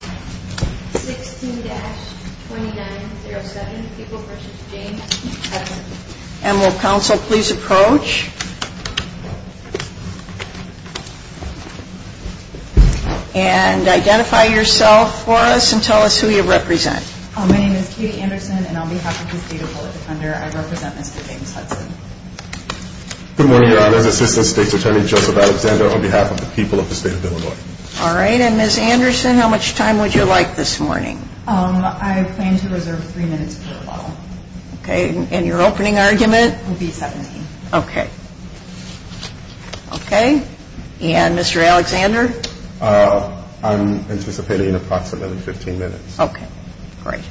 16-2907 People vs. James Hudson Emerald Council, please approach. And identify yourself for us and tell us who you represent. My name is Katie Anderson, and on behalf of the state of Boulder Thunder, I represent Mr. James Hudson. Good morning, Your Honors. Assistant State's Attorney Joseph Alexander on behalf of the people of the state of Illinois. All right, and Ms. Anderson, how much time would you like this morning? I plan to reserve three minutes for the ball. Okay, and your opening argument? It will be 17. Okay. Okay, and Mr. Alexander? I'm anticipating approximately 15 minutes. Okay, great.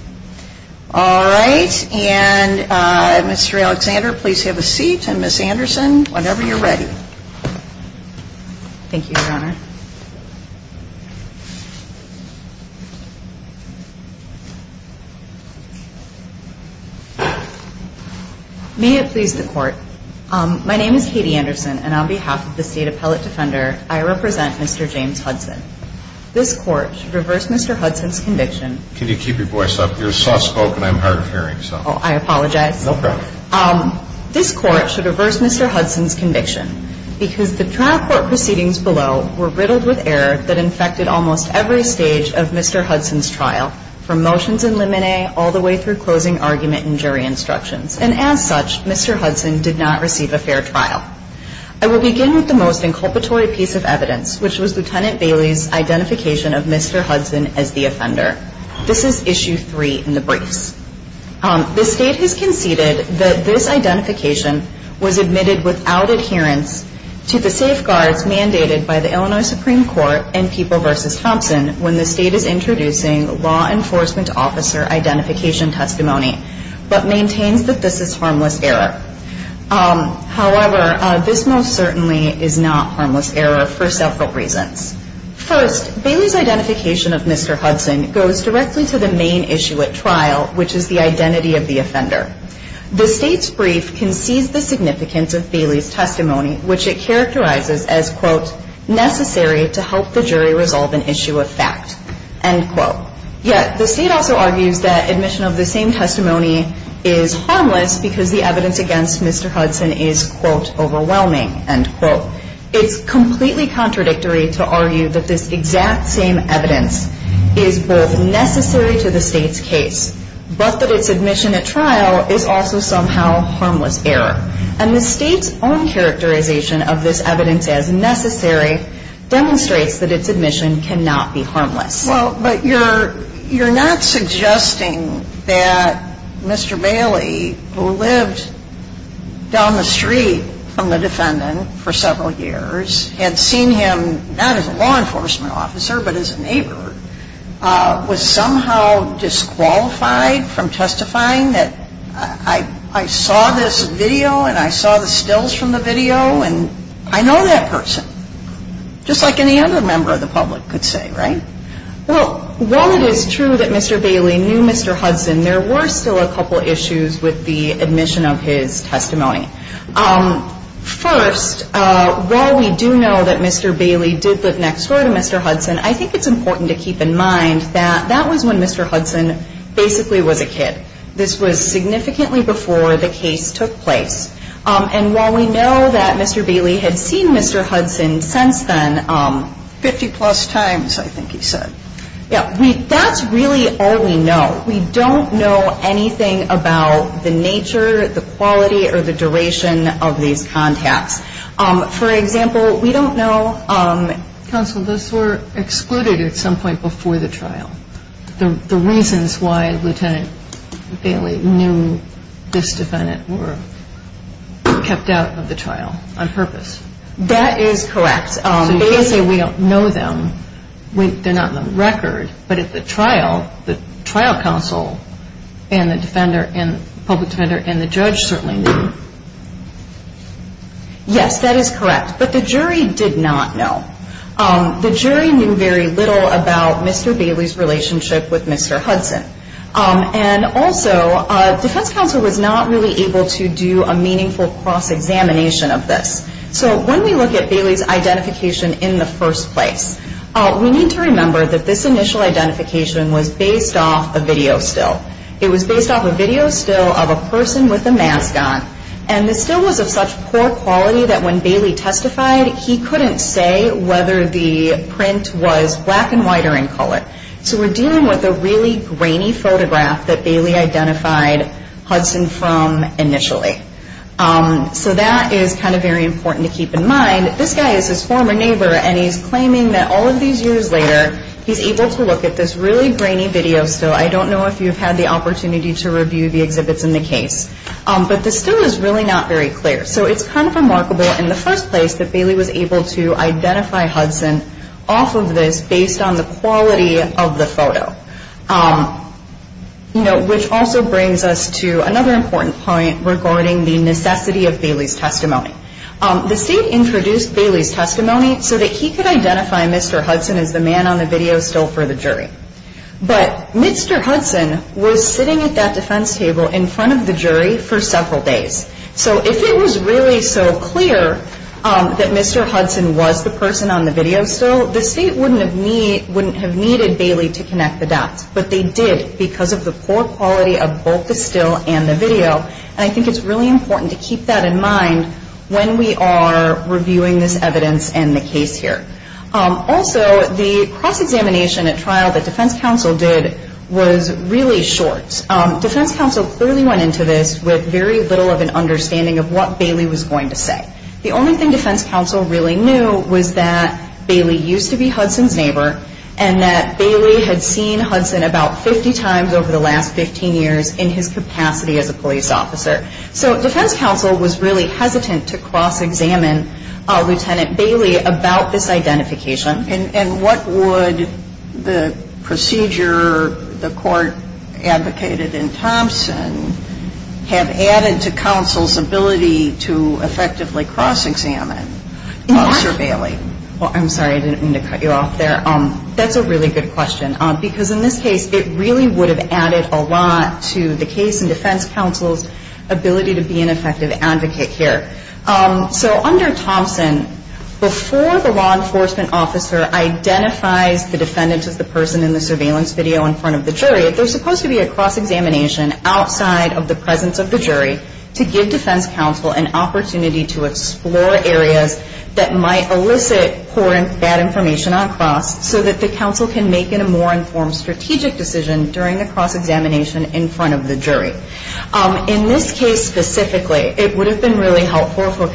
All right, and Mr. Alexander, please have a seat, and Ms. Anderson, whenever you're ready. Thank you, Your Honor. May it please the Court. My name is Katie Anderson, and on behalf of the State Appellate Defender, I represent Mr. James Hudson. This Court should reverse Mr. Hudson's conviction. Can you keep your voice up? You're soft-spoken. I'm hard of hearing, so. Oh, I apologize. Okay. This Court should reverse Mr. Hudson's conviction because the trial court proceedings below were riddled with error that infected almost every stage of Mr. Hudson's trial, from motions in limine all the way through closing argument and jury instructions, and as such, Mr. Hudson did not receive a fair trial. I will begin with the most inculpatory piece of evidence, which was Lieutenant Bailey's identification of Mr. Hudson as the offender. This is Issue 3 in the briefs. The State has conceded that this identification was admitted without adherence to the safeguards mandated by the Illinois Supreme Court and People v. Thompson when the State is introducing law enforcement officer identification testimony, but maintains that this is harmless error. However, this most certainly is not harmless error for several reasons. First, Bailey's identification of Mr. Hudson goes directly to the main issue at trial, which is the identity of the offender. The State's brief concedes the significance of Bailey's testimony, which it characterizes as, quote, necessary to help the jury resolve an issue of fact, end quote. Yet, the State also argues that admission of the same testimony is harmless because the evidence against Mr. Hudson is, quote, overwhelming, end quote. It's completely contradictory to argue that this exact same evidence is both necessary to the State's case, but that its admission at trial is also somehow harmless error. And the State's own characterization of this evidence as necessary demonstrates that its admission cannot be harmless. Well, but you're not suggesting that Mr. Bailey, who lived down the street from the defendant for several years, had seen him not as a law enforcement officer but as a neighbor, was somehow disqualified from testifying that I saw this video and I saw the stills from the video and I know that person, just like any other member of the public could say, right? Well, while it is true that Mr. Bailey knew Mr. Hudson, there were still a couple issues with the admission of his testimony. First, while we do know that Mr. Bailey did live next door to Mr. Hudson, I think it's important to keep in mind that that was when Mr. Hudson basically was a kid. This was significantly before the case took place. And while we know that Mr. Bailey had seen Mr. Hudson since then 50-plus times, I think he said, that's really all we know. We don't know anything about the nature, the quality, or the duration of these contacts. For example, we don't know – Counsel, those were excluded at some point before the trial, the reasons why Lieutenant Bailey knew this defendant were kept out of the trial on purpose. That is correct. So you're saying we don't know them, they're not on the record, but at the trial, the trial counsel and the public defender and the judge certainly knew. Yes, that is correct. But the jury did not know. The jury knew very little about Mr. Bailey's relationship with Mr. Hudson. And also, defense counsel was not really able to do a meaningful cross-examination of this. So when we look at Bailey's identification in the first place, we need to remember that this initial identification was based off a video still. It was based off a video still of a person with a mask on. And the still was of such poor quality that when Bailey testified, he couldn't say whether the print was black and white or in color. So we're dealing with a really grainy photograph that Bailey identified Hudson from initially. So that is kind of very important to keep in mind. This guy is his former neighbor, and he's claiming that all of these years later, he's able to look at this really grainy video still. I don't know if you've had the opportunity to review the exhibits in the case. But the still is really not very clear. So it's kind of remarkable in the first place that Bailey was able to identify Hudson off of this based on the quality of the photo. Which also brings us to another important point regarding the necessity of Bailey's testimony. The state introduced Bailey's testimony so that he could identify Mr. Hudson as the man on the video still for the jury. But Mr. Hudson was sitting at that defense table in front of the jury for several days. So if it was really so clear that Mr. Hudson was the person on the video still, the state wouldn't have needed Bailey to connect the dots. But they did because of the poor quality of both the still and the video. And I think it's really important to keep that in mind when we are reviewing this evidence in the case here. Also, the cross-examination at trial that defense counsel did was really short. Defense counsel clearly went into this with very little of an understanding of what Bailey was going to say. The only thing defense counsel really knew was that Bailey used to be Hudson's neighbor and that Bailey had seen Hudson about 50 times over the last 15 years in his capacity as a police officer. So defense counsel was really hesitant to cross-examine Lieutenant Bailey about this identification. And what would the procedure the court advocated in Thompson have added to counsel's ability to effectively cross-examine Officer Bailey? Well, I'm sorry. I didn't mean to cut you off there. That's a really good question. Because in this case, it really would have added a lot to the case and defense counsel's ability to be an effective advocate here. So under Thompson, before the law enforcement officer identifies the defendant as the person in the surveillance video in front of the jury, there's supposed to be a cross-examination outside of the presence of the jury to give defense counsel an opportunity to explore areas that might elicit poor and bad information on cross so that the counsel can make a more informed strategic decision during the cross-examination in front of the jury. In this case specifically, it would have been really helpful for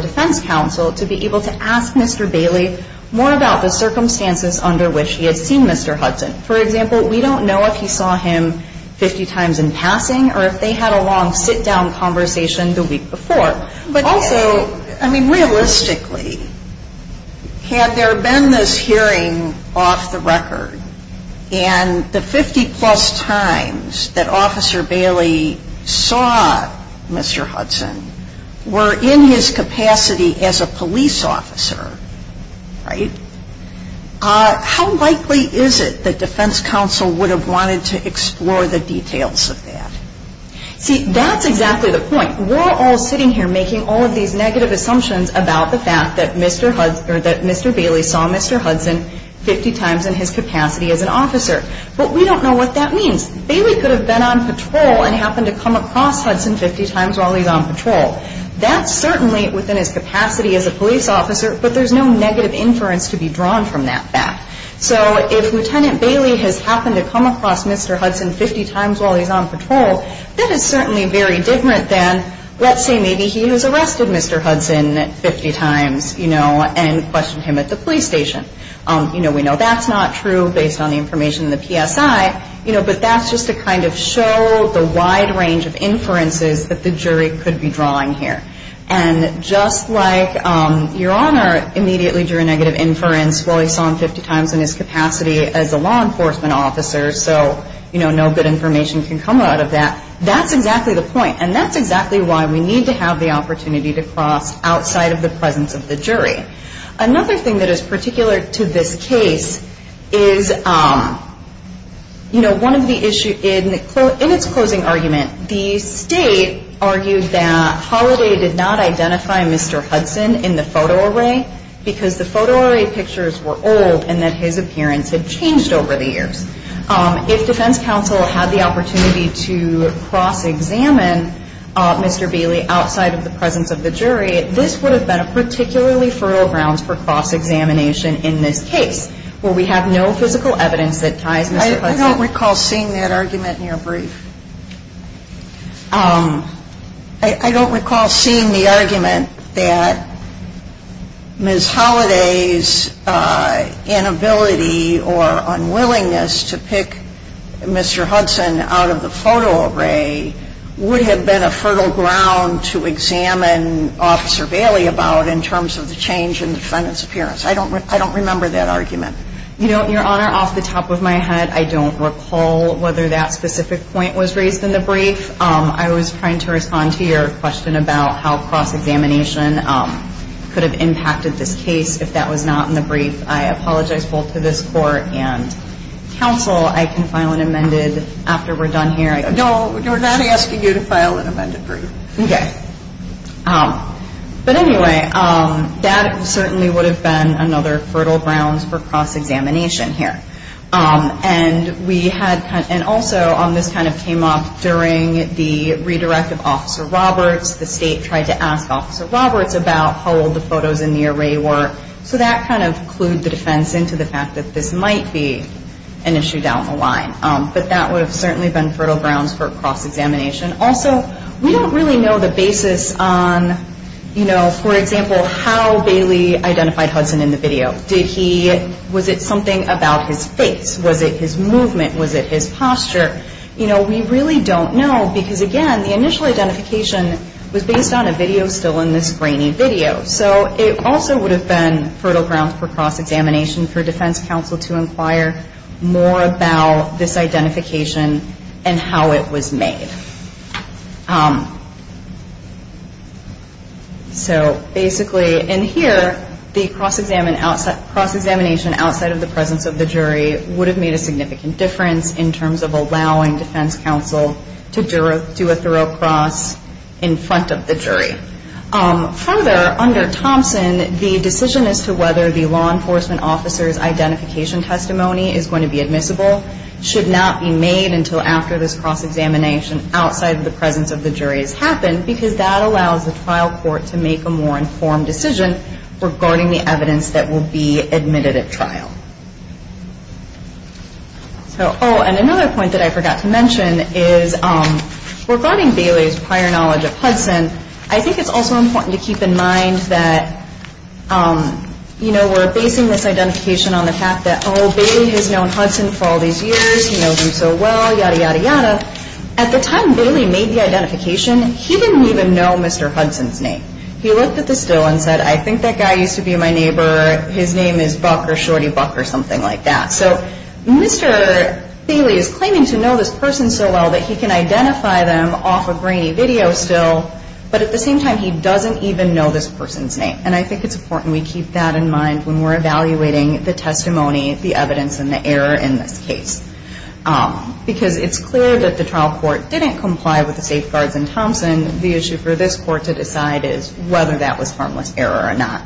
defense counsel to be able to ask Mr. Bailey more about the circumstances under which he had seen Mr. Hudson. For example, we don't know if he saw him 50 times in passing or if they had a long sit-down conversation the week before. Also, realistically, had there been this hearing off the record and the 50 plus times that Officer Bailey saw Mr. Hudson were in his capacity as a police officer, how likely is it that defense counsel would have wanted to explore the details of that? See, that's exactly the point. We're all sitting here making all of these negative assumptions about the fact that Mr. Bailey saw Mr. Hudson 50 times in his capacity as an officer. But we don't know what that means. Bailey could have been on patrol and happened to come across Hudson 50 times while he's on patrol. That's certainly within his capacity as a police officer, but there's no negative inference to be drawn from that fact. So if Lieutenant Bailey has happened to come across Mr. Hudson 50 times while he's on patrol, that is certainly very different than let's say maybe he has arrested Mr. Hudson 50 times and questioned him at the police station. We know that's not true based on the information in the PSI, but that's just to kind of show the wide range of inferences that the jury could be drawing here. And just like Your Honor immediately drew a negative inference while he saw him 50 times in his capacity as a law enforcement officer, so no good information can come out of that, that's exactly the point. And that's exactly why we need to have the opportunity to cross outside of the presence of the jury. Another thing that is particular to this case is one of the issues in its closing argument, the State argued that Holliday did not identify Mr. Hudson in the photo array because the photo array pictures were old and that his appearance had changed over the years. If defense counsel had the opportunity to cross-examine Mr. Bailey outside of the presence of the jury, this would have been a particularly fertile ground for cross-examination in this case where we have no physical evidence that ties Mr. Hudson. I don't recall seeing that argument in your brief. I don't recall seeing the argument that Ms. Holliday's inability or unwillingness to pick Mr. Hudson out of the photo array would have been a fertile ground to examine Officer Bailey about in terms of the change in the defendant's appearance. I don't remember that argument. You know, Your Honor, off the top of my head, I don't recall whether that specific point was raised in the brief. I was trying to respond to your question about how cross-examination could have impacted this case if that was not in the brief. I apologize both to this Court and counsel. I can file an amended after we're done here. No, we're not asking you to file an amended brief. Okay. But anyway, that certainly would have been another fertile ground for cross-examination here. And also, this kind of came up during the redirect of Officer Roberts. The State tried to ask Officer Roberts about how old the photos in the array were. So that kind of clued the defense into the fact that this might be an issue down the line. But that would have certainly been fertile grounds for cross-examination. Also, we don't really know the basis on, you know, for example, how Bailey identified Hudson in the video. Was it something about his face? Was it his movement? Was it his posture? You know, we really don't know because, again, the initial identification was based on a video still in this grainy video. So it also would have been fertile grounds for cross-examination for defense counsel to inquire more about this identification and how it was made. So basically, in here, the cross-examination outside of the presence of the jury would have made a significant difference in terms of allowing defense counsel to do a thorough cross in front of the jury. Further, under Thompson, the decision as to whether the law enforcement officer's identification testimony is going to be admissible should not be made until after this cross-examination outside of the presence of the jury has happened because that allows the trial court to make a more informed decision regarding the evidence that will be admitted at trial. Oh, and another point that I forgot to mention is regarding Bailey's prior knowledge of Hudson, I think it's also important to keep in mind that, you know, we're basing this identification on the fact that, oh, Bailey has known Hudson for all these years. He knows him so well, yada, yada, yada. At the time Bailey made the identification, he didn't even know Mr. Hudson's name. He looked at the still and said, I think that guy used to be my neighbor. His name is Buck or Shorty Buck or something like that. So Mr. Bailey is claiming to know this person so well that he can identify them off a grainy video still, but at the same time he doesn't even know this person's name. And I think it's important we keep that in mind when we're evaluating the testimony, the evidence, and the error in this case because it's clear that the trial court didn't comply with the safeguards in Thompson. And the issue for this court to decide is whether that was harmless error or not.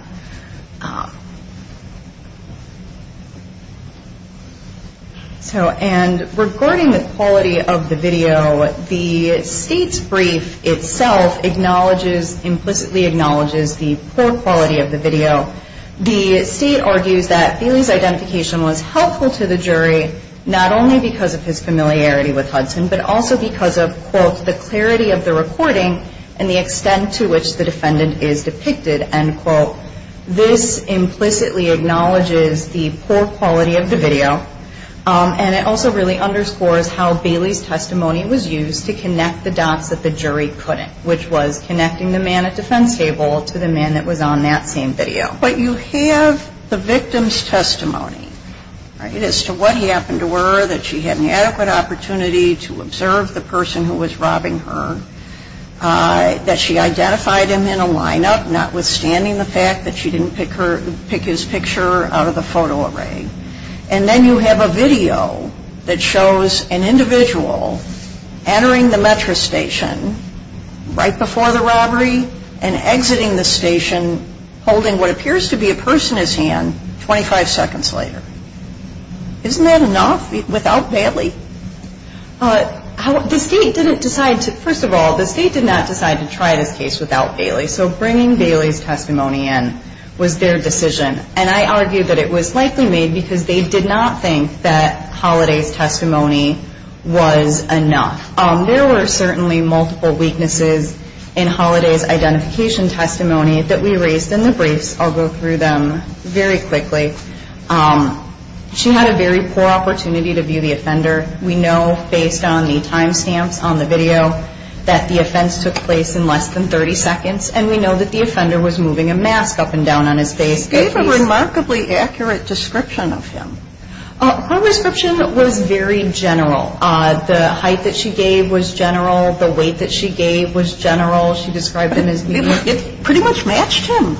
And regarding the quality of the video, the state's brief itself acknowledges, implicitly acknowledges the poor quality of the video. The state argues that Bailey's identification was helpful to the jury not only because of his familiarity with Hudson but also because of, quote, the clarity of the recording and the extent to which the defendant is depicted. And, quote, this implicitly acknowledges the poor quality of the video. And it also really underscores how Bailey's testimony was used to connect the dots that the jury couldn't, which was connecting the man at defense table to the man that was on that same video. But you have the victim's testimony, right, as to what happened to her, that she had an adequate opportunity to observe the person who was robbing her, that she identified him in a lineup notwithstanding the fact that she didn't pick his picture out of the photo array. And then you have a video that shows an individual entering the metro station right before the robbery and exiting the station holding what appears to be a person's hand 25 seconds later. Isn't that enough without Bailey? The state didn't decide to, first of all, the state did not decide to try this case without Bailey. So bringing Bailey's testimony in was their decision. And I argue that it was likely made because they did not think that Holiday's testimony was enough. There were certainly multiple weaknesses in Holiday's identification testimony that we raised in the briefs. I'll go through them very quickly. She had a very poor opportunity to view the offender. We know based on the time stamps on the video that the offense took place in less than 30 seconds, and we know that the offender was moving a mask up and down on his face. They gave a remarkably accurate description of him. Her description was very general. The height that she gave was general. The weight that she gave was general. It pretty much matched him.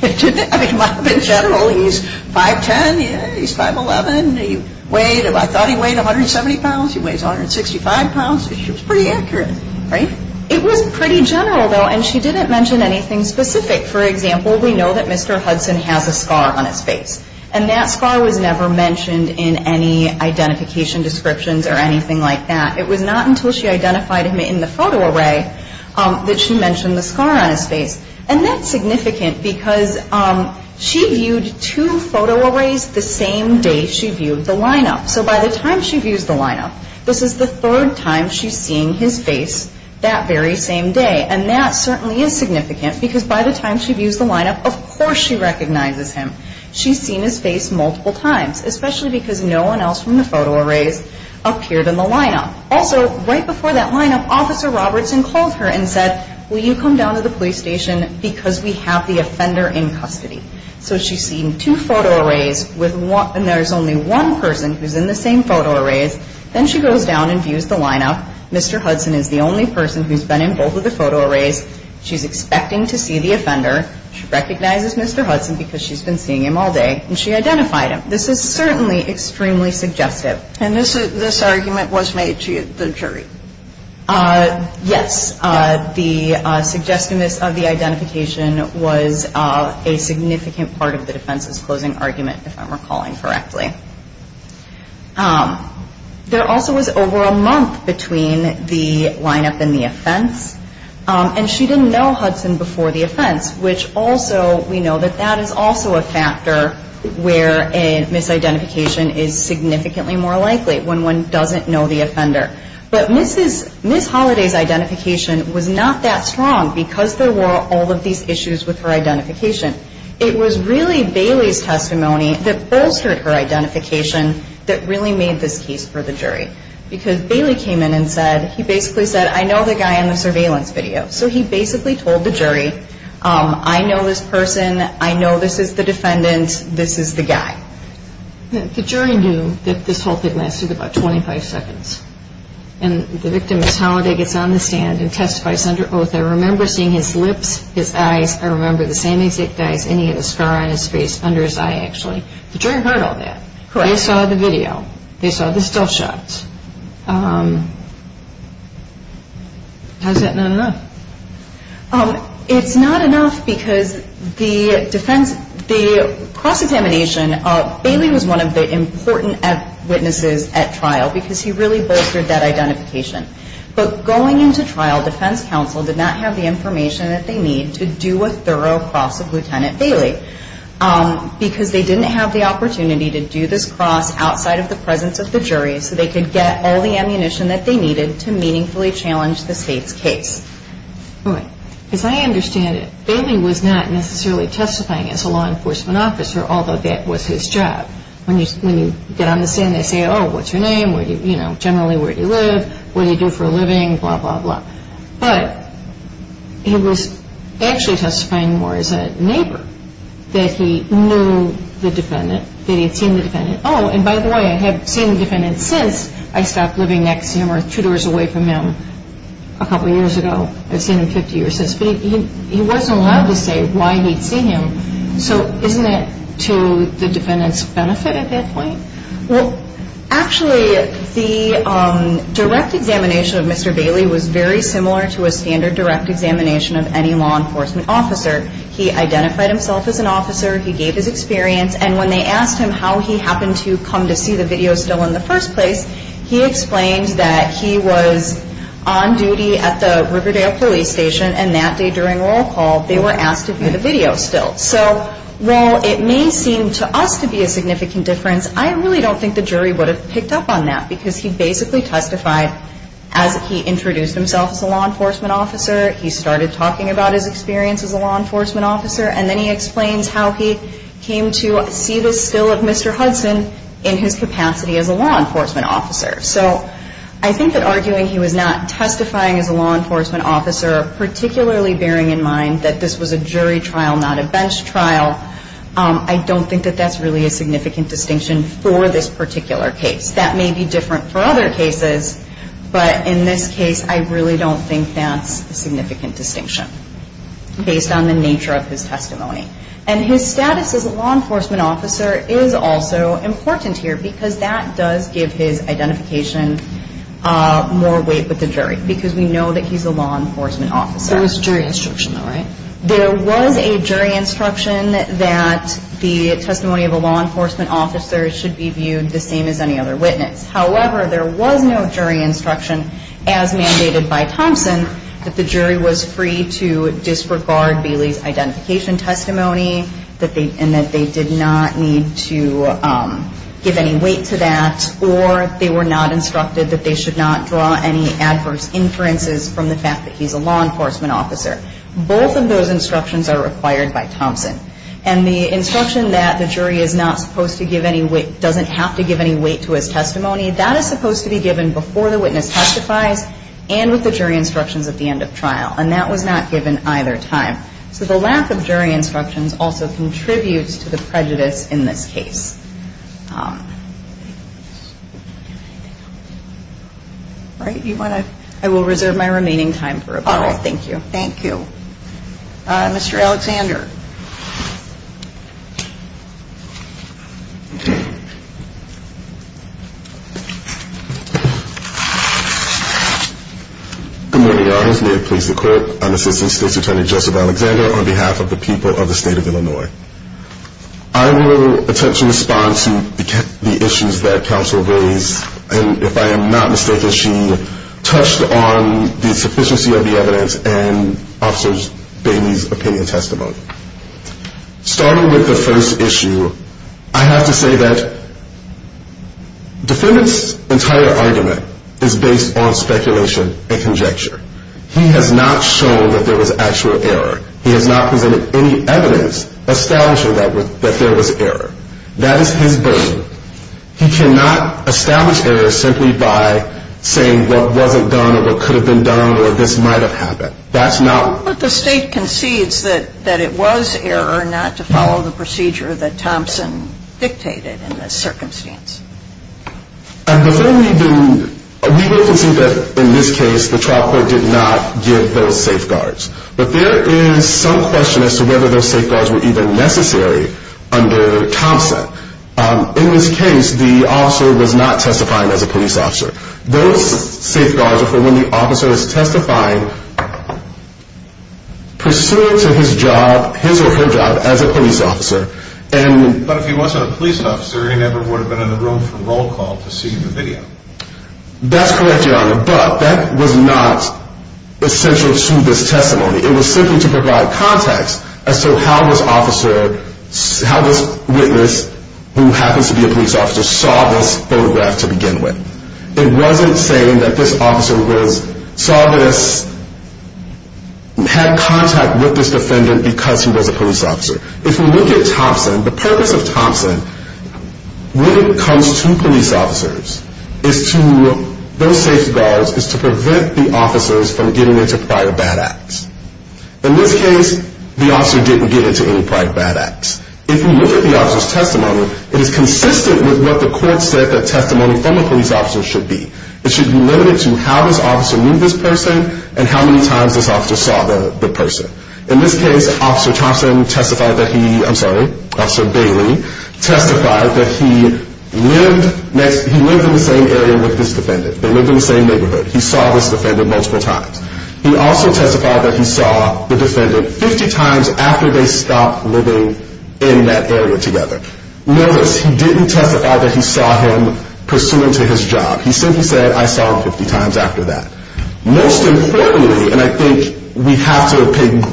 It might have been general. He's 5'10", he's 5'11". I thought he weighed 170 pounds. He weighs 165 pounds. It was pretty accurate, right? It was pretty general, though, and she didn't mention anything specific. For example, we know that Mr. Hudson has a scar on his face, and that scar was never mentioned in any identification descriptions or anything like that. It was not until she identified him in the photo array that she mentioned the scar on his face, and that's significant because she viewed two photo arrays the same day she viewed the lineup. So by the time she views the lineup, this is the third time she's seeing his face that very same day, and that certainly is significant because by the time she views the lineup, of course she recognizes him. She's seen his face multiple times, especially because no one else from the photo arrays appeared in the lineup. Also, right before that lineup, Officer Robertson called her and said, will you come down to the police station because we have the offender in custody. So she's seen two photo arrays, and there's only one person who's in the same photo arrays. Then she goes down and views the lineup. Mr. Hudson is the only person who's been in both of the photo arrays. She's expecting to see the offender. She recognizes Mr. Hudson because she's been seeing him all day, and she identified him. This is certainly extremely suggestive. And this argument was made to the jury? Yes. The suggestiveness of the identification was a significant part of the defense's closing argument, if I'm recalling correctly. There also was over a month between the lineup and the offense, and she didn't know Hudson before the offense, which also we know that that is also a factor where a misidentification is significantly more likely, when one doesn't know the offender. But Ms. Holliday's identification was not that strong because there were all of these issues with her identification. It was really Bailey's testimony that bolstered her identification that really made this case for the jury. Because Bailey came in and said, he basically said, I know the guy in the surveillance video. So he basically told the jury, I know this person, I know this is the defendant, this is the guy. The jury knew that this whole thing lasted about 25 seconds. And the victim, Ms. Holliday, gets on the stand and testifies under oath, I remember seeing his lips, his eyes, I remember the same exact eyes, and he had a scar on his face under his eye, actually. The jury heard all that. Correct. They saw the video. They saw the still shots. Has that been enough? It's not enough because the defense, the cross-examination, Bailey was one of the important witnesses at trial because he really bolstered that identification. But going into trial, defense counsel did not have the information that they need to do a thorough cross of Lieutenant Bailey. Because they didn't have the opportunity to do this cross outside of the presence of the jury so they could get all the ammunition that they needed to meaningfully challenge the state's case. All right. As I understand it, Bailey was not necessarily testifying as a law enforcement officer, although that was his job. When you get on the stand, they say, oh, what's your name, generally where do you live, what do you do for a living, blah, blah, blah. But he was actually testifying more as a neighbor, that he knew the defendant, that he had seen the defendant. Oh, and by the way, I have seen the defendant since I stopped living next to him or two doors away from him a couple years ago. I've seen him 50 years since. But he wasn't allowed to say why he'd seen him. So isn't that to the defendant's benefit at that point? Well, actually, the direct examination of Mr. Bailey was very similar to a standard direct examination of any law enforcement officer. He identified himself as an officer, he gave his experience, and when they asked him how he happened to come to see the video still in the first place, he explained that he was on duty at the Riverdale Police Station, and that day during roll call they were asked to view the video still. So while it may seem to us to be a significant difference, I really don't think the jury would have picked up on that, because he basically testified as he introduced himself as a law enforcement officer, he started talking about his experience as a law enforcement officer, and then he explains how he came to see this still of Mr. Hudson in his capacity as a law enforcement officer. So I think that arguing he was not testifying as a law enforcement officer, particularly bearing in mind that this was a jury trial, not a bench trial, I don't think that that's really a significant distinction for this particular case. That may be different for other cases, but in this case I really don't think that's a significant distinction based on the nature of his testimony. And his status as a law enforcement officer is also important here, because that does give his identification more weight with the jury, because we know that he's a law enforcement officer. There was jury instruction though, right? There was a jury instruction that the testimony of a law enforcement officer should be viewed the same as any other witness. However, there was no jury instruction as mandated by Thompson that the jury was free to disregard Bailey's identification testimony and that they did not need to give any weight to that, or they were not instructed that they should not draw any adverse inferences from the fact that he's a law enforcement officer. Both of those instructions are required by Thompson. And the instruction that the jury is not supposed to give any weight, doesn't have to give any weight to his testimony, that is supposed to be given before the witness testifies and with the jury instructions at the end of trial. And that was not given either time. So the lack of jury instructions also contributes to the prejudice in this case. I will reserve my remaining time for rebuttal. Thank you. Thank you. Mr. Alexander. Good morning. May it please the court. I'm Assistant State's Attorney, Joseph Alexander, on behalf of the people of the state of Illinois. I will attempt to respond to the issues that counsel raised, and if I am not mistaken, she touched on the sufficiency of the evidence in Officer Bailey's opinion testimony. Starting with the first issue, I have to say that defendant's entire argument is based on speculation and conjecture. He has not shown that there was actual error. He has not presented any evidence establishing that there was error. That is his burden. He cannot establish error simply by saying what wasn't done or what could have been done or this might have happened. But the state concedes that it was error not to follow the procedure that Thompson dictated in this circumstance. And before we do, we will concede that in this case the trial court did not give those safeguards. But there is some question as to whether those safeguards were even necessary under Thompson. In this case, the officer was not testifying as a police officer. Those safeguards are for when the officer is testifying pursuant to his job, his or her job, as a police officer. But if he wasn't a police officer, he never would have been in the room for roll call to see the video. That's correct, Your Honor, but that was not essential to this testimony. It was simply to provide context as to how this witness, who happens to be a police officer, saw this photograph to begin with. It wasn't saying that this officer saw this, had contact with this defendant because he was a police officer. If we look at Thompson, the purpose of Thompson when it comes to police officers is to, those safeguards is to prevent the officers from getting into prior bad acts. In this case, the officer didn't get into any prior bad acts. If you look at the officer's testimony, it is consistent with what the court said that testimony from a police officer should be. It should be limited to how this officer knew this person and how many times this officer saw the person. In this case, Officer Thompson testified that he, I'm sorry, Officer Bailey testified that he lived next, he lived in the same area with this defendant. They lived in the same neighborhood. He saw this defendant multiple times. He also testified that he saw the defendant 50 times after they stopped living in that area together. Notice, he didn't testify that he saw him pursuant to his job. He simply said, I saw him 50 times after that. Most importantly, and I think we have to pay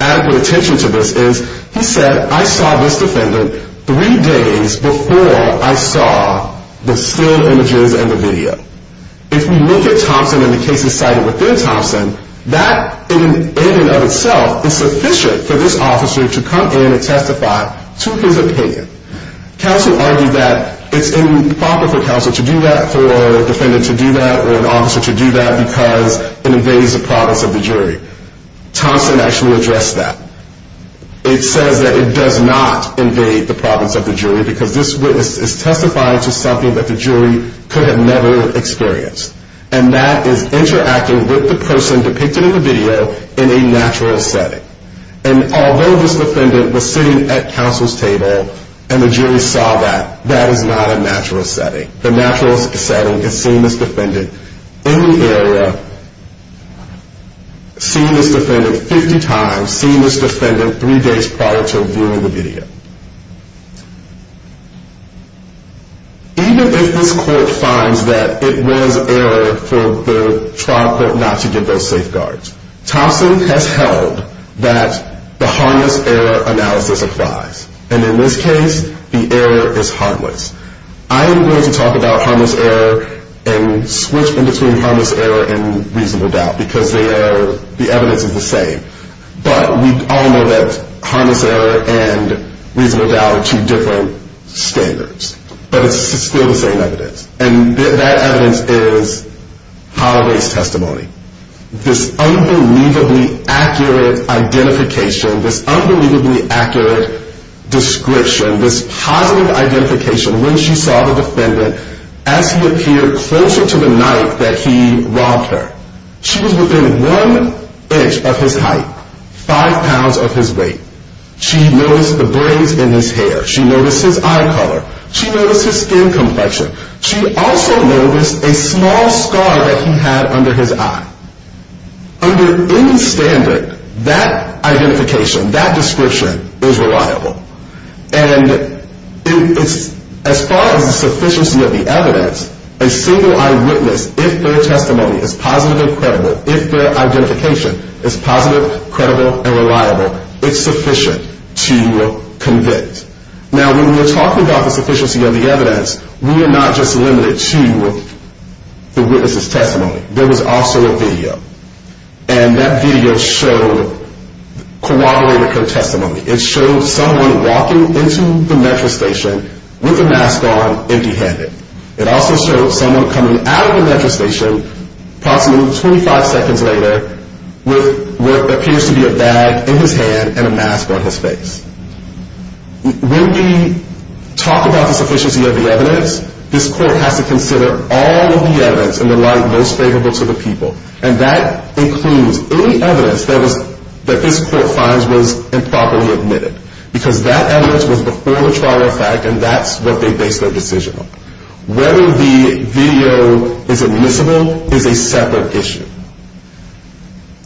adequate attention to this, is he said, I saw this defendant three days before I saw the still images and the video. If we look at Thompson and the cases cited within Thompson, that in and of itself is sufficient for this officer to come in and testify to his opinion. Counsel argued that it's improper for counsel to do that, for a defendant to do that, or an officer to do that because it invades the province of the jury. Thompson actually addressed that. It says that it does not invade the province of the jury because this witness is testifying to something that the jury could have never experienced, and that is interacting with the person depicted in the video in a natural setting. And although this defendant was sitting at counsel's table and the jury saw that, that is not a natural setting. The natural setting is seeing this defendant in the area, seeing this defendant 50 times, seeing this defendant three days prior to viewing the video. Even if this court finds that it was error for the trial court not to give those safeguards, Thompson has held that the harmless error analysis applies. And in this case, the error is harmless. I am going to talk about harmless error and switch between harmless error and reasonable doubt because the evidence is the same. But we all know that harmless error and reasonable doubt are two different standards. But it's still the same evidence. And that evidence is hollow race testimony. This unbelievably accurate identification, this unbelievably accurate description, this positive identification when she saw the defendant as he appeared closer to the night that he robbed her. She was within one inch of his height, five pounds of his weight. She noticed the braids in his hair. She noticed his eye color. She noticed his skin complexion. She also noticed a small scar that he had under his eye. Under any standard, that identification, that description is reliable. And as far as the sufficiency of the evidence, a single eyed witness, if their testimony is positive and credible, if their identification is positive, credible, and reliable, it's sufficient to convict. Now, when we're talking about the sufficiency of the evidence, we are not just limited to the witness's testimony. There was also a video. And that video showed corroborated co-testimony. It showed someone walking into the metro station with a mask on, empty handed. It also showed someone coming out of the metro station approximately 25 seconds later with what appears to be a bag in his hand and a mask on his face. When we talk about the sufficiency of the evidence, this court has to consider all of the evidence in the light most favorable to the people. And that includes any evidence that this court finds was improperly admitted. Because that evidence was before the trial of fact, and that's what they based their decision on. Whether the video is admissible is a separate issue.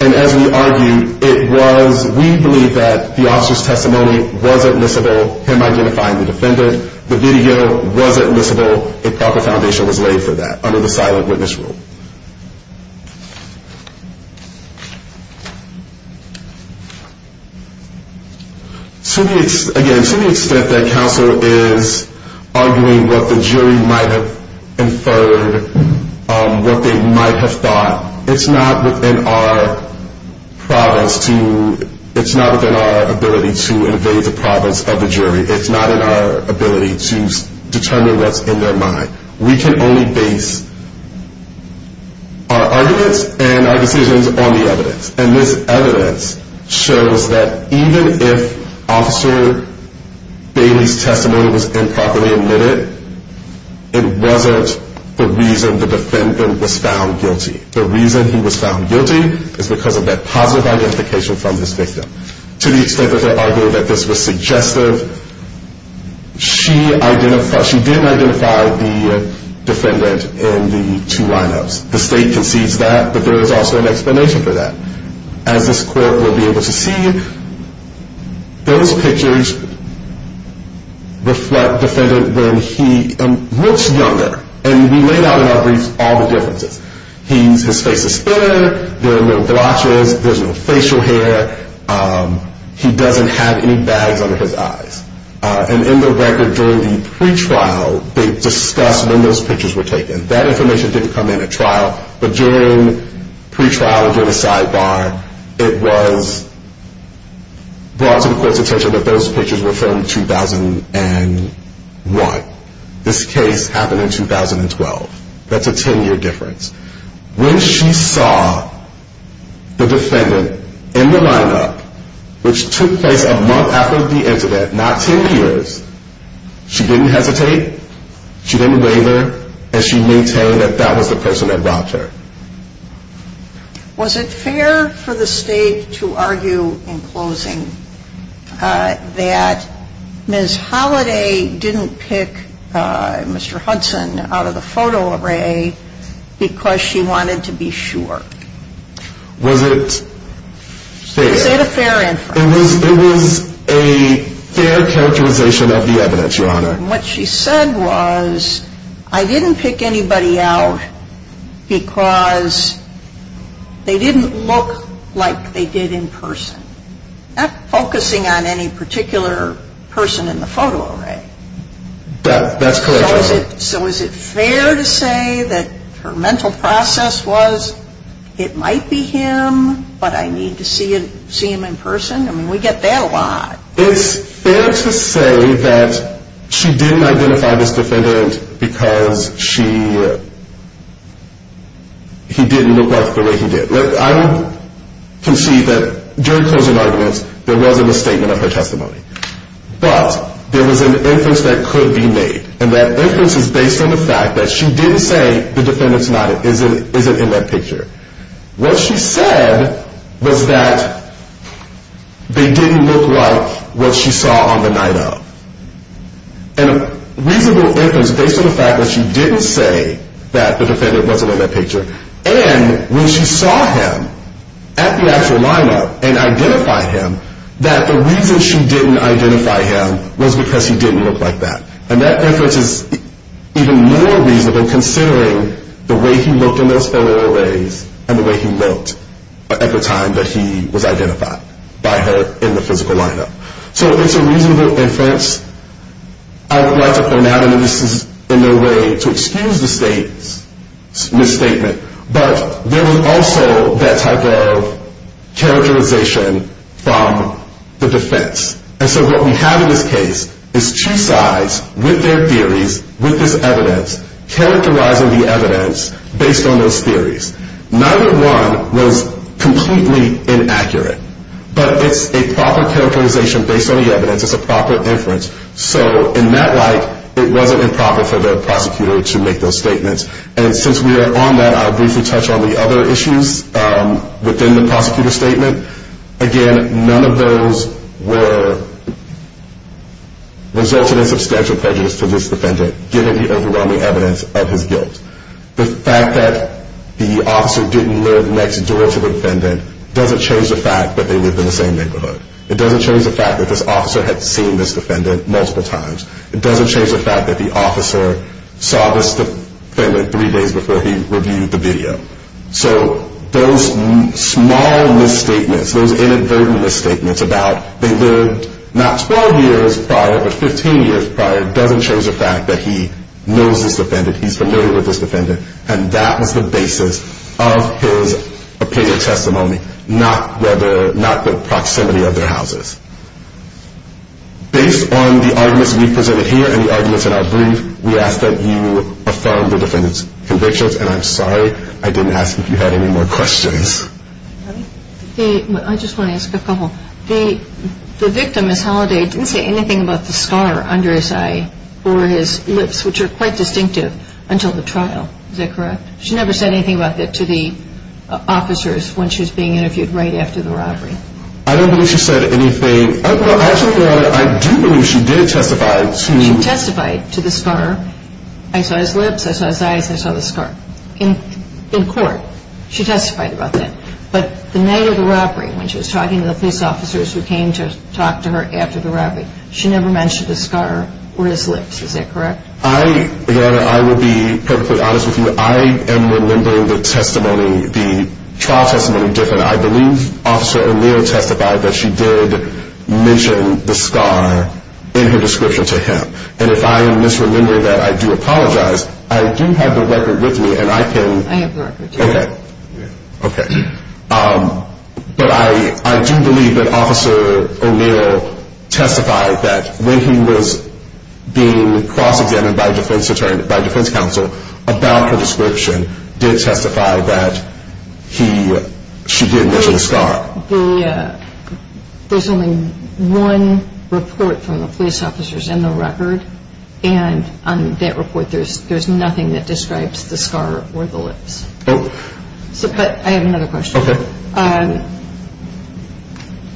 And as we argued, it was, we believe that the officer's testimony was admissible, him identifying the defendant. The video wasn't admissible. A proper foundation was laid for that under the silent witness rule. Again, to the extent that counsel is arguing what the jury might have inferred, what they might have thought, it's not within our province to, it's not within our ability to invade the province of the jury. It's not in our ability to determine what's in their mind. We can only base our arguments and our decisions on the evidence. And this evidence shows that even if Officer Bailey's testimony was improperly admitted, it wasn't the reason the defendant was found guilty. The reason he was found guilty is because of that positive identification from this victim. To the extent that they argue that this was suggestive, she didn't identify the defendant in the two lineups. The state concedes that, but there is also an explanation for that. As this court will be able to see, those pictures reflect the defendant when he looks younger. And we laid out in our briefs all the differences. His face is thinner, there are no blotches, there's no facial hair, he doesn't have any bags under his eyes. And in the record during the pretrial, they discussed when those pictures were taken. That information didn't come in at trial, but during pretrial and during the sidebar, it was brought to the court's attention that those pictures were from 2001. This case happened in 2012. That's a 10-year difference. When she saw the defendant in the lineup, which took place a month after the incident, not 10 years, she didn't hesitate, she didn't waver, and she maintained that that was the person that robbed her. Was it fair for the state to argue in closing that Ms. Holiday didn't pick Mr. Hudson out of the photo array because she wanted to be sure? Was it fair? Was it a fair inference? It was a fair characterization of the evidence, Your Honor. And what she said was, I didn't pick anybody out because they didn't look like they did in person. Not focusing on any particular person in the photo array. That's correct, Your Honor. So is it fair to say that her mental process was, it might be him, but I need to see him in person? I mean, we get that a lot. It's fair to say that she didn't identify this defendant because he didn't look like the way he did. I would concede that during closing arguments, there wasn't a statement of her testimony. But there was an inference that could be made. And that inference is based on the fact that she didn't say the defendant's not, isn't in that picture. What she said was that they didn't look like what she saw on the night of. And a reasonable inference based on the fact that she didn't say that the defendant wasn't in that picture. And when she saw him at the actual lineup and identified him, that the reason she didn't identify him was because he didn't look like that. And that inference is even more reasonable considering the way he looked in those photo arrays and the way he looked at the time that he was identified by her in the physical lineup. So it's a reasonable inference. I would like to point out, and this is in no way to excuse the State's misstatement, but there was also that type of characterization from the defense. And so what we have in this case is two sides with their theories, with this evidence, characterizing the evidence based on those theories. Neither one was completely inaccurate. But it's a proper characterization based on the evidence. It's a proper inference. So in that light, it wasn't improper for the prosecutor to make those statements. And since we are on that, I'll briefly touch on the other issues within the prosecutor's statement. Again, none of those resulted in substantial prejudice to this defendant, given the overwhelming evidence of his guilt. The fact that the officer didn't live next door to the defendant doesn't change the fact that they live in the same neighborhood. It doesn't change the fact that this officer had seen this defendant multiple times. It doesn't change the fact that the officer saw this defendant three days before he reviewed the video. So those small misstatements, those inadvertent misstatements about they lived not 12 years prior, but 15 years prior doesn't change the fact that he knows this defendant, he's familiar with this defendant, and that was the basis of his opinion testimony, not the proximity of their houses. Based on the arguments we've presented here and the arguments in our brief, we ask that you affirm the defendant's convictions. And I'm sorry I didn't ask if you had any more questions. I just want to ask a couple. The victim, Ms. Holliday, didn't say anything about the scar under his eye or his lips, which are quite distinctive, until the trial. Is that correct? She never said anything about that to the officers when she was being interviewed right after the robbery. I don't believe she said anything. Actually, Your Honor, I do believe she did testify. She testified to the scar. I saw his lips. I saw his eyes. I saw the scar. In court, she testified about that. But the night of the robbery, when she was talking to the police officers who came to talk to her after the robbery, she never mentioned the scar or his lips. Is that correct? Your Honor, I will be perfectly honest with you. I am remembering the testimony, the trial testimony different. I believe Officer O'Neill testified that she did mention the scar in her description to him. And if I am misremembering that, I do apologize. I do have the record with me, and I can. I have the record, too. Okay. Okay. But I do believe that Officer O'Neill testified that when he was being cross-examined by defense counsel about her description, did testify that she did mention the scar. There's only one report from the police officers in the record, and on that report there's nothing that describes the scar or the lips. Oh. But I have another question. Okay.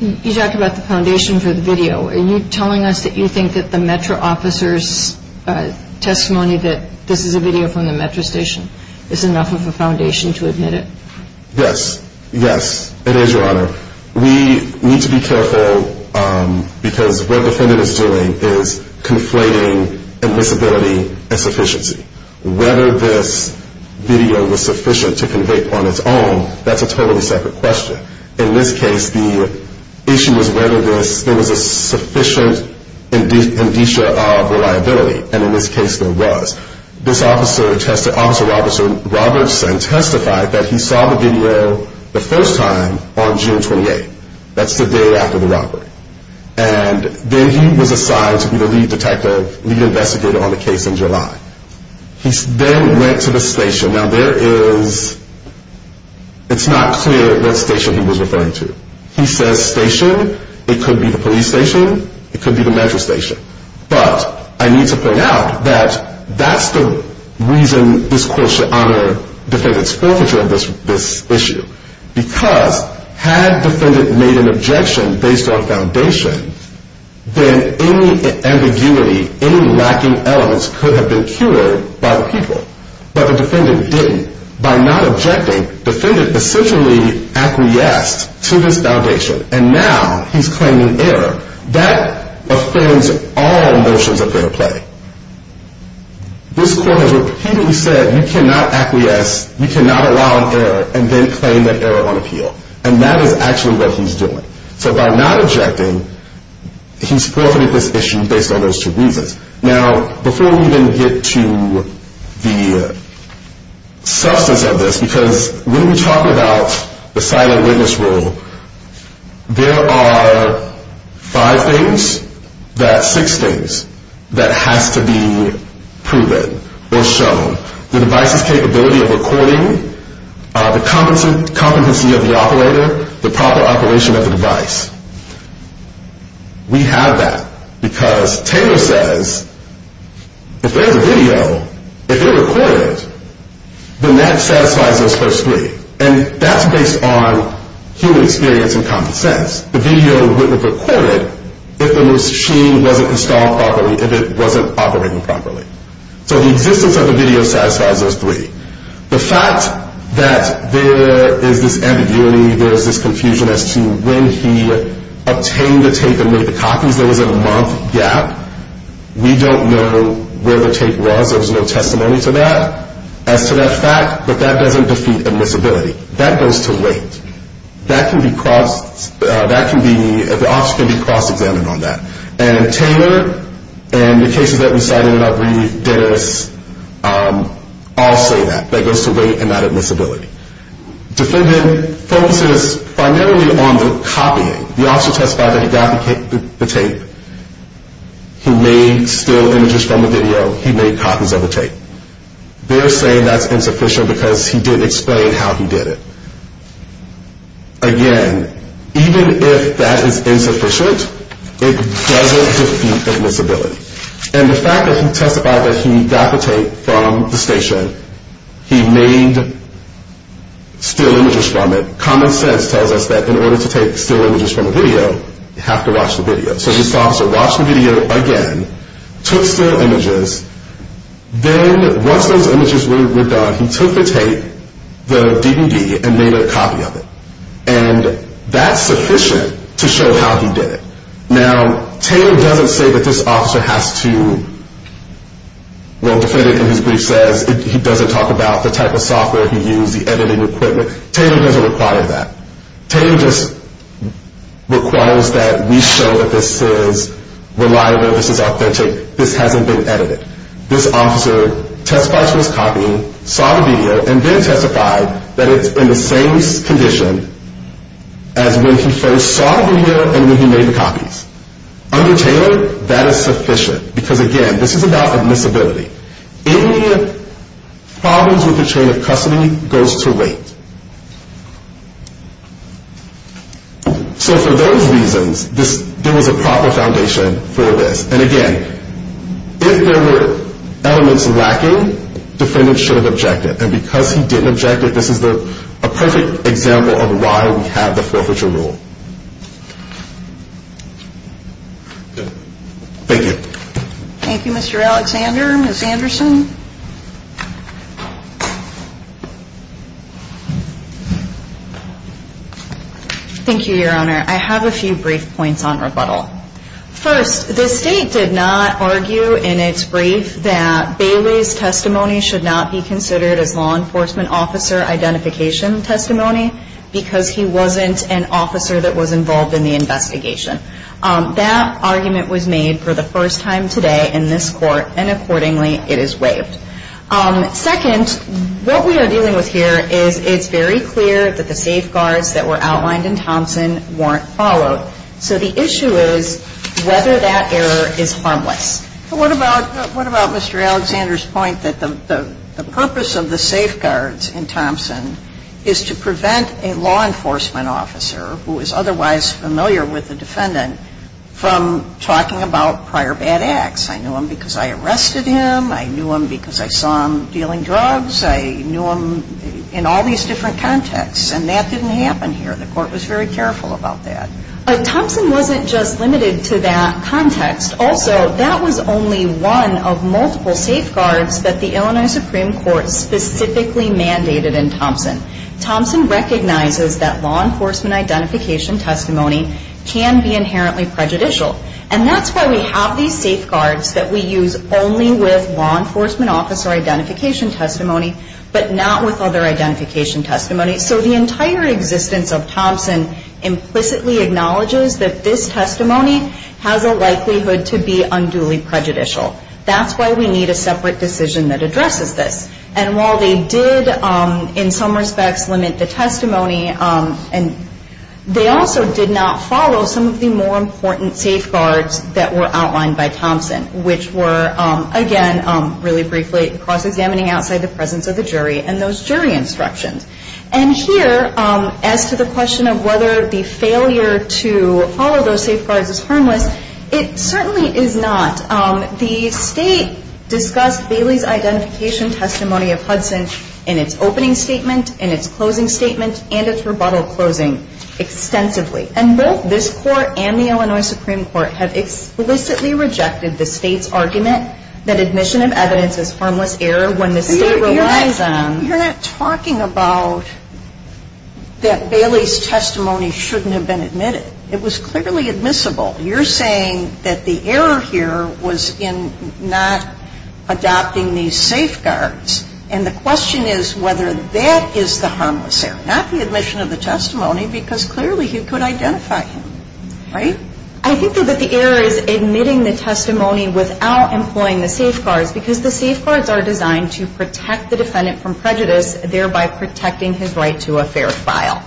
You talked about the foundation for the video. Are you telling us that you think that the Metro officers' testimony that this is a video from the Metro station is enough of a foundation to admit it? Yes. Yes, it is, Your Honor. We need to be careful because what the defendant is doing is conflating admissibility and sufficiency. Whether this video was sufficient to convict on its own, that's a totally separate question. In this case, the issue is whether there was a sufficient indicia of reliability, and in this case there was. This officer, Officer Robertson, testified that he saw the video the first time on June 28th. That's the day after the robbery. And then he was assigned to be the lead detective, lead investigator on the case in July. He then went to the station. Now, there is, it's not clear what station he was referring to. He says station. It could be the police station. It could be the Metro station. But I need to point out that that's the reason this court should honor the defendant's forfeiture of this issue. Because had the defendant made an objection based on foundation, then any ambiguity, any lacking elements could have been cured by the people. But the defendant didn't. By not objecting, the defendant essentially acquiesced to this foundation. And now he's claiming error. That offends all notions of fair play. This court has repeatedly said you cannot acquiesce, you cannot allow error, and then claim that error on appeal. And that is actually what he's doing. So by not objecting, he's forfeited this issue based on those two reasons. Now, before we even get to the substance of this, because when we talk about the silent witness rule, there are five things that, six things, that has to be proven or shown. The device's capability of recording, the competency of the operator, the proper operation of the device. We have that. Because Taylor says if there's a video, if you record it, then that satisfies those first three. And that's based on human experience and common sense. The video wouldn't have recorded if the machine wasn't installed properly, if it wasn't operating properly. So the existence of the video satisfies those three. The fact that there is this ambiguity, there is this confusion as to when he obtained the tape and made the copies, there was a month gap. We don't know where the tape was. There was no testimony to that, as to that fact. But that doesn't defeat admissibility. That goes to wait. That can be, the office can be cross-examined on that. And Taylor and the cases that we cited in our brief did all say that. That goes to wait and not admissibility. Defendant focuses primarily on the copying. The officer testified that he got the tape. He made still images from the video. He made copies of the tape. They're saying that's insufficient because he didn't explain how he did it. Again, even if that is insufficient, it doesn't defeat admissibility. And the fact that he testified that he got the tape from the station, he made still images from it, common sense tells us that in order to take still images from a video, you have to watch the video. So this officer watched the video again, took still images. Then once those images were done, he took the tape, the DVD, and made a copy of it. And that's sufficient to show how he did it. Now, Taylor doesn't say that this officer has to, well, defendant in his brief says, he doesn't talk about the type of software he used, the editing equipment. Taylor doesn't require that. Taylor just requires that we show that this is reliable, this is authentic. This hasn't been edited. This officer testified to his copying, saw the video, and then testified that it's in the same condition as when he first saw the video and when he made the copies. Under Taylor, that is sufficient because, again, this is about admissibility. Any problems with the chain of custody goes to wait. So for those reasons, there was a proper foundation for this. And again, if there were elements lacking, defendant should have objected. And because he didn't object, this is a perfect example of why we have the forfeiture rule. Thank you. Thank you, Mr. Alexander. Ms. Anderson? Thank you, Your Honor. I have a few brief points on rebuttal. First, the State did not argue in its brief that Bailey's testimony should not be considered as law enforcement officer identification testimony because he wasn't an officer that was involved in the investigation. That argument was made for the first time today in this court, and accordingly, it is waived. Second, what we are dealing with here is it's very clear that the safeguards that were outlined in Thompson weren't followed. So the issue is whether that error is harmless. What about Mr. Alexander's point that the purpose of the safeguards in Thompson is to prevent a law enforcement officer who is otherwise familiar with the defendant from talking about prior bad acts? I knew him because I arrested him. I knew him because I saw him dealing drugs. I knew him in all these different contexts. And that didn't happen here. The Court was very careful about that. But Thompson wasn't just limited to that context. Also, that was only one of multiple safeguards that the Illinois Supreme Court specifically mandated in Thompson. Thompson recognizes that law enforcement identification testimony can be inherently prejudicial. And that's why we have these safeguards that we use only with law enforcement officer identification testimony, but not with other identification testimony. So the entire existence of Thompson implicitly acknowledges that this testimony has a likelihood to be unduly prejudicial. That's why we need a separate decision that addresses this. And while they did, in some respects, limit the testimony, they also did not follow some of the more important safeguards that were outlined by Thompson, which were, again, really briefly, cross-examining outside the presence of the jury and those jury instructions. And here, as to the question of whether the failure to follow those safeguards is harmless, it certainly is not. The State discussed Bailey's identification testimony of Hudson in its opening statement, in its closing statement, and its rebuttal closing extensively. And both this Court and the Illinois Supreme Court have explicitly rejected the State's argument that admission of evidence is harmless error when the State relies on... You're not talking about that Bailey's testimony shouldn't have been admitted. It was clearly admissible. You're saying that the error here was in not adopting these safeguards. And the question is whether that is the harmless error, not the admission of the testimony, because clearly he could identify him, right? I think that the error is admitting the testimony without employing the safeguards because the safeguards are designed to protect the defendant from prejudice, thereby protecting his right to a fair trial.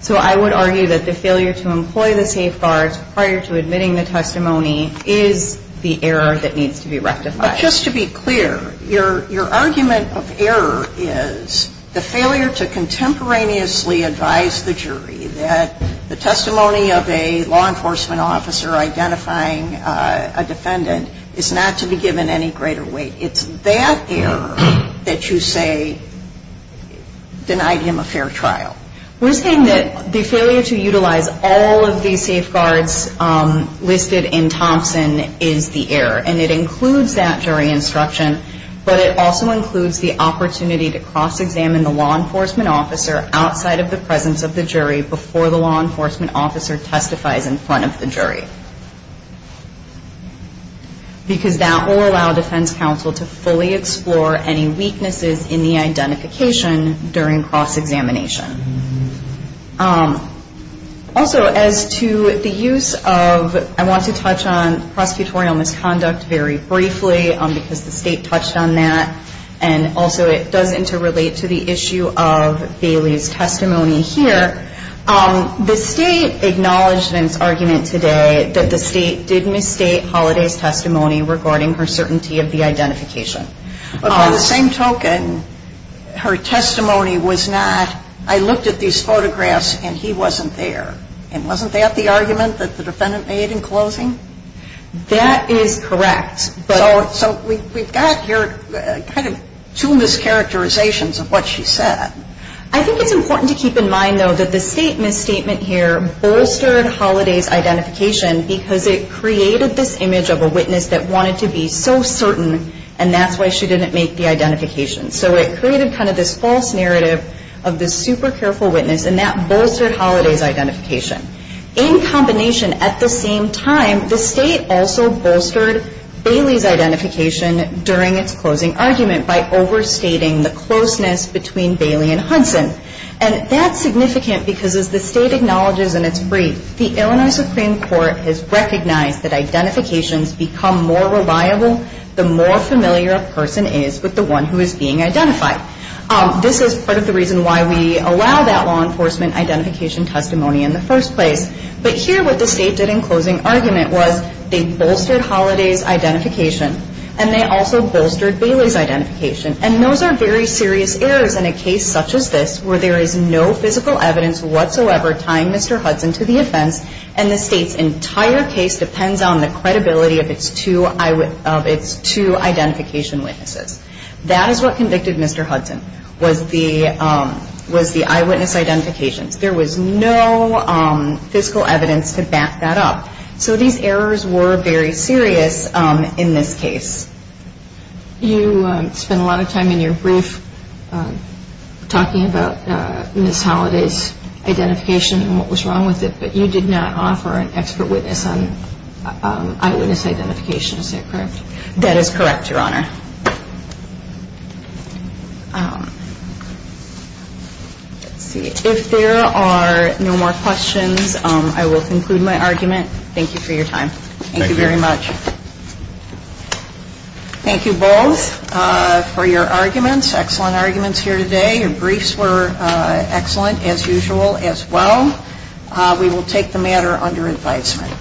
So I would argue that the failure to employ the safeguards prior to admitting the testimony is the error that needs to be rectified. Just to be clear, your argument of error is the failure to contemporaneously advise the jury that the testimony of a law enforcement officer identifying a defendant is not to be given any greater weight. It's that error that you say denied him a fair trial. We're saying that the failure to utilize all of these safeguards listed in Thompson is the error. And it includes that jury instruction, but it also includes the opportunity to cross-examine the law enforcement officer outside of the presence of the jury before the law enforcement officer testifies in front of the jury. Because that will allow defense counsel to fully explore any weaknesses in the identification during cross-examination. Also, as to the use of, I want to touch on prosecutorial misconduct very briefly because the State touched on that, and also it does interrelate to the issue of Bailey's testimony here. The State acknowledged in its argument today that the State did misstate Holliday's testimony regarding her certainty of the identification. But by the same token, her testimony was not, I looked at these photographs and he wasn't there. And wasn't that the argument that the defendant made in closing? That is correct. So we've got here kind of two mischaracterizations of what she said. I think it's important to keep in mind, though, that the State misstatement here bolstered Holliday's identification because it created this image of a witness that wanted to be so certain and that's why she didn't make the identification. So it created kind of this false narrative of this super careful witness and that bolstered Holliday's identification. In combination, at the same time, the State also bolstered Bailey's identification during its closing argument by overstating the closeness between Bailey and Hudson. And that's significant because as the State acknowledges in its brief, the Illinois Supreme Court has recognized that identifications become more reliable the more familiar a person is with the one who is being identified. This is part of the reason why we allow that law enforcement identification testimony in the first place. But here what the State did in closing argument was they bolstered Holliday's identification and they also bolstered Bailey's identification. And those are very serious errors in a case such as this where there is no physical evidence whatsoever tying Mr. Hudson to the offense and the State's entire case depends on the credibility of its two identification witnesses. That is what convicted Mr. Hudson was the eyewitness identifications. There was no physical evidence to back that up. So these errors were very serious in this case. You spent a lot of time in your brief talking about Ms. Holliday's identification and what was wrong with it, but you did not offer an expert witness on eyewitness identification. Is that correct? That is correct, Your Honor. Let's see. If there are no more questions, I will conclude my argument. Thank you for your time. Thank you very much. Thank you both for your arguments, excellent arguments here today. Your briefs were excellent as usual as well. We will take the matter under advisement.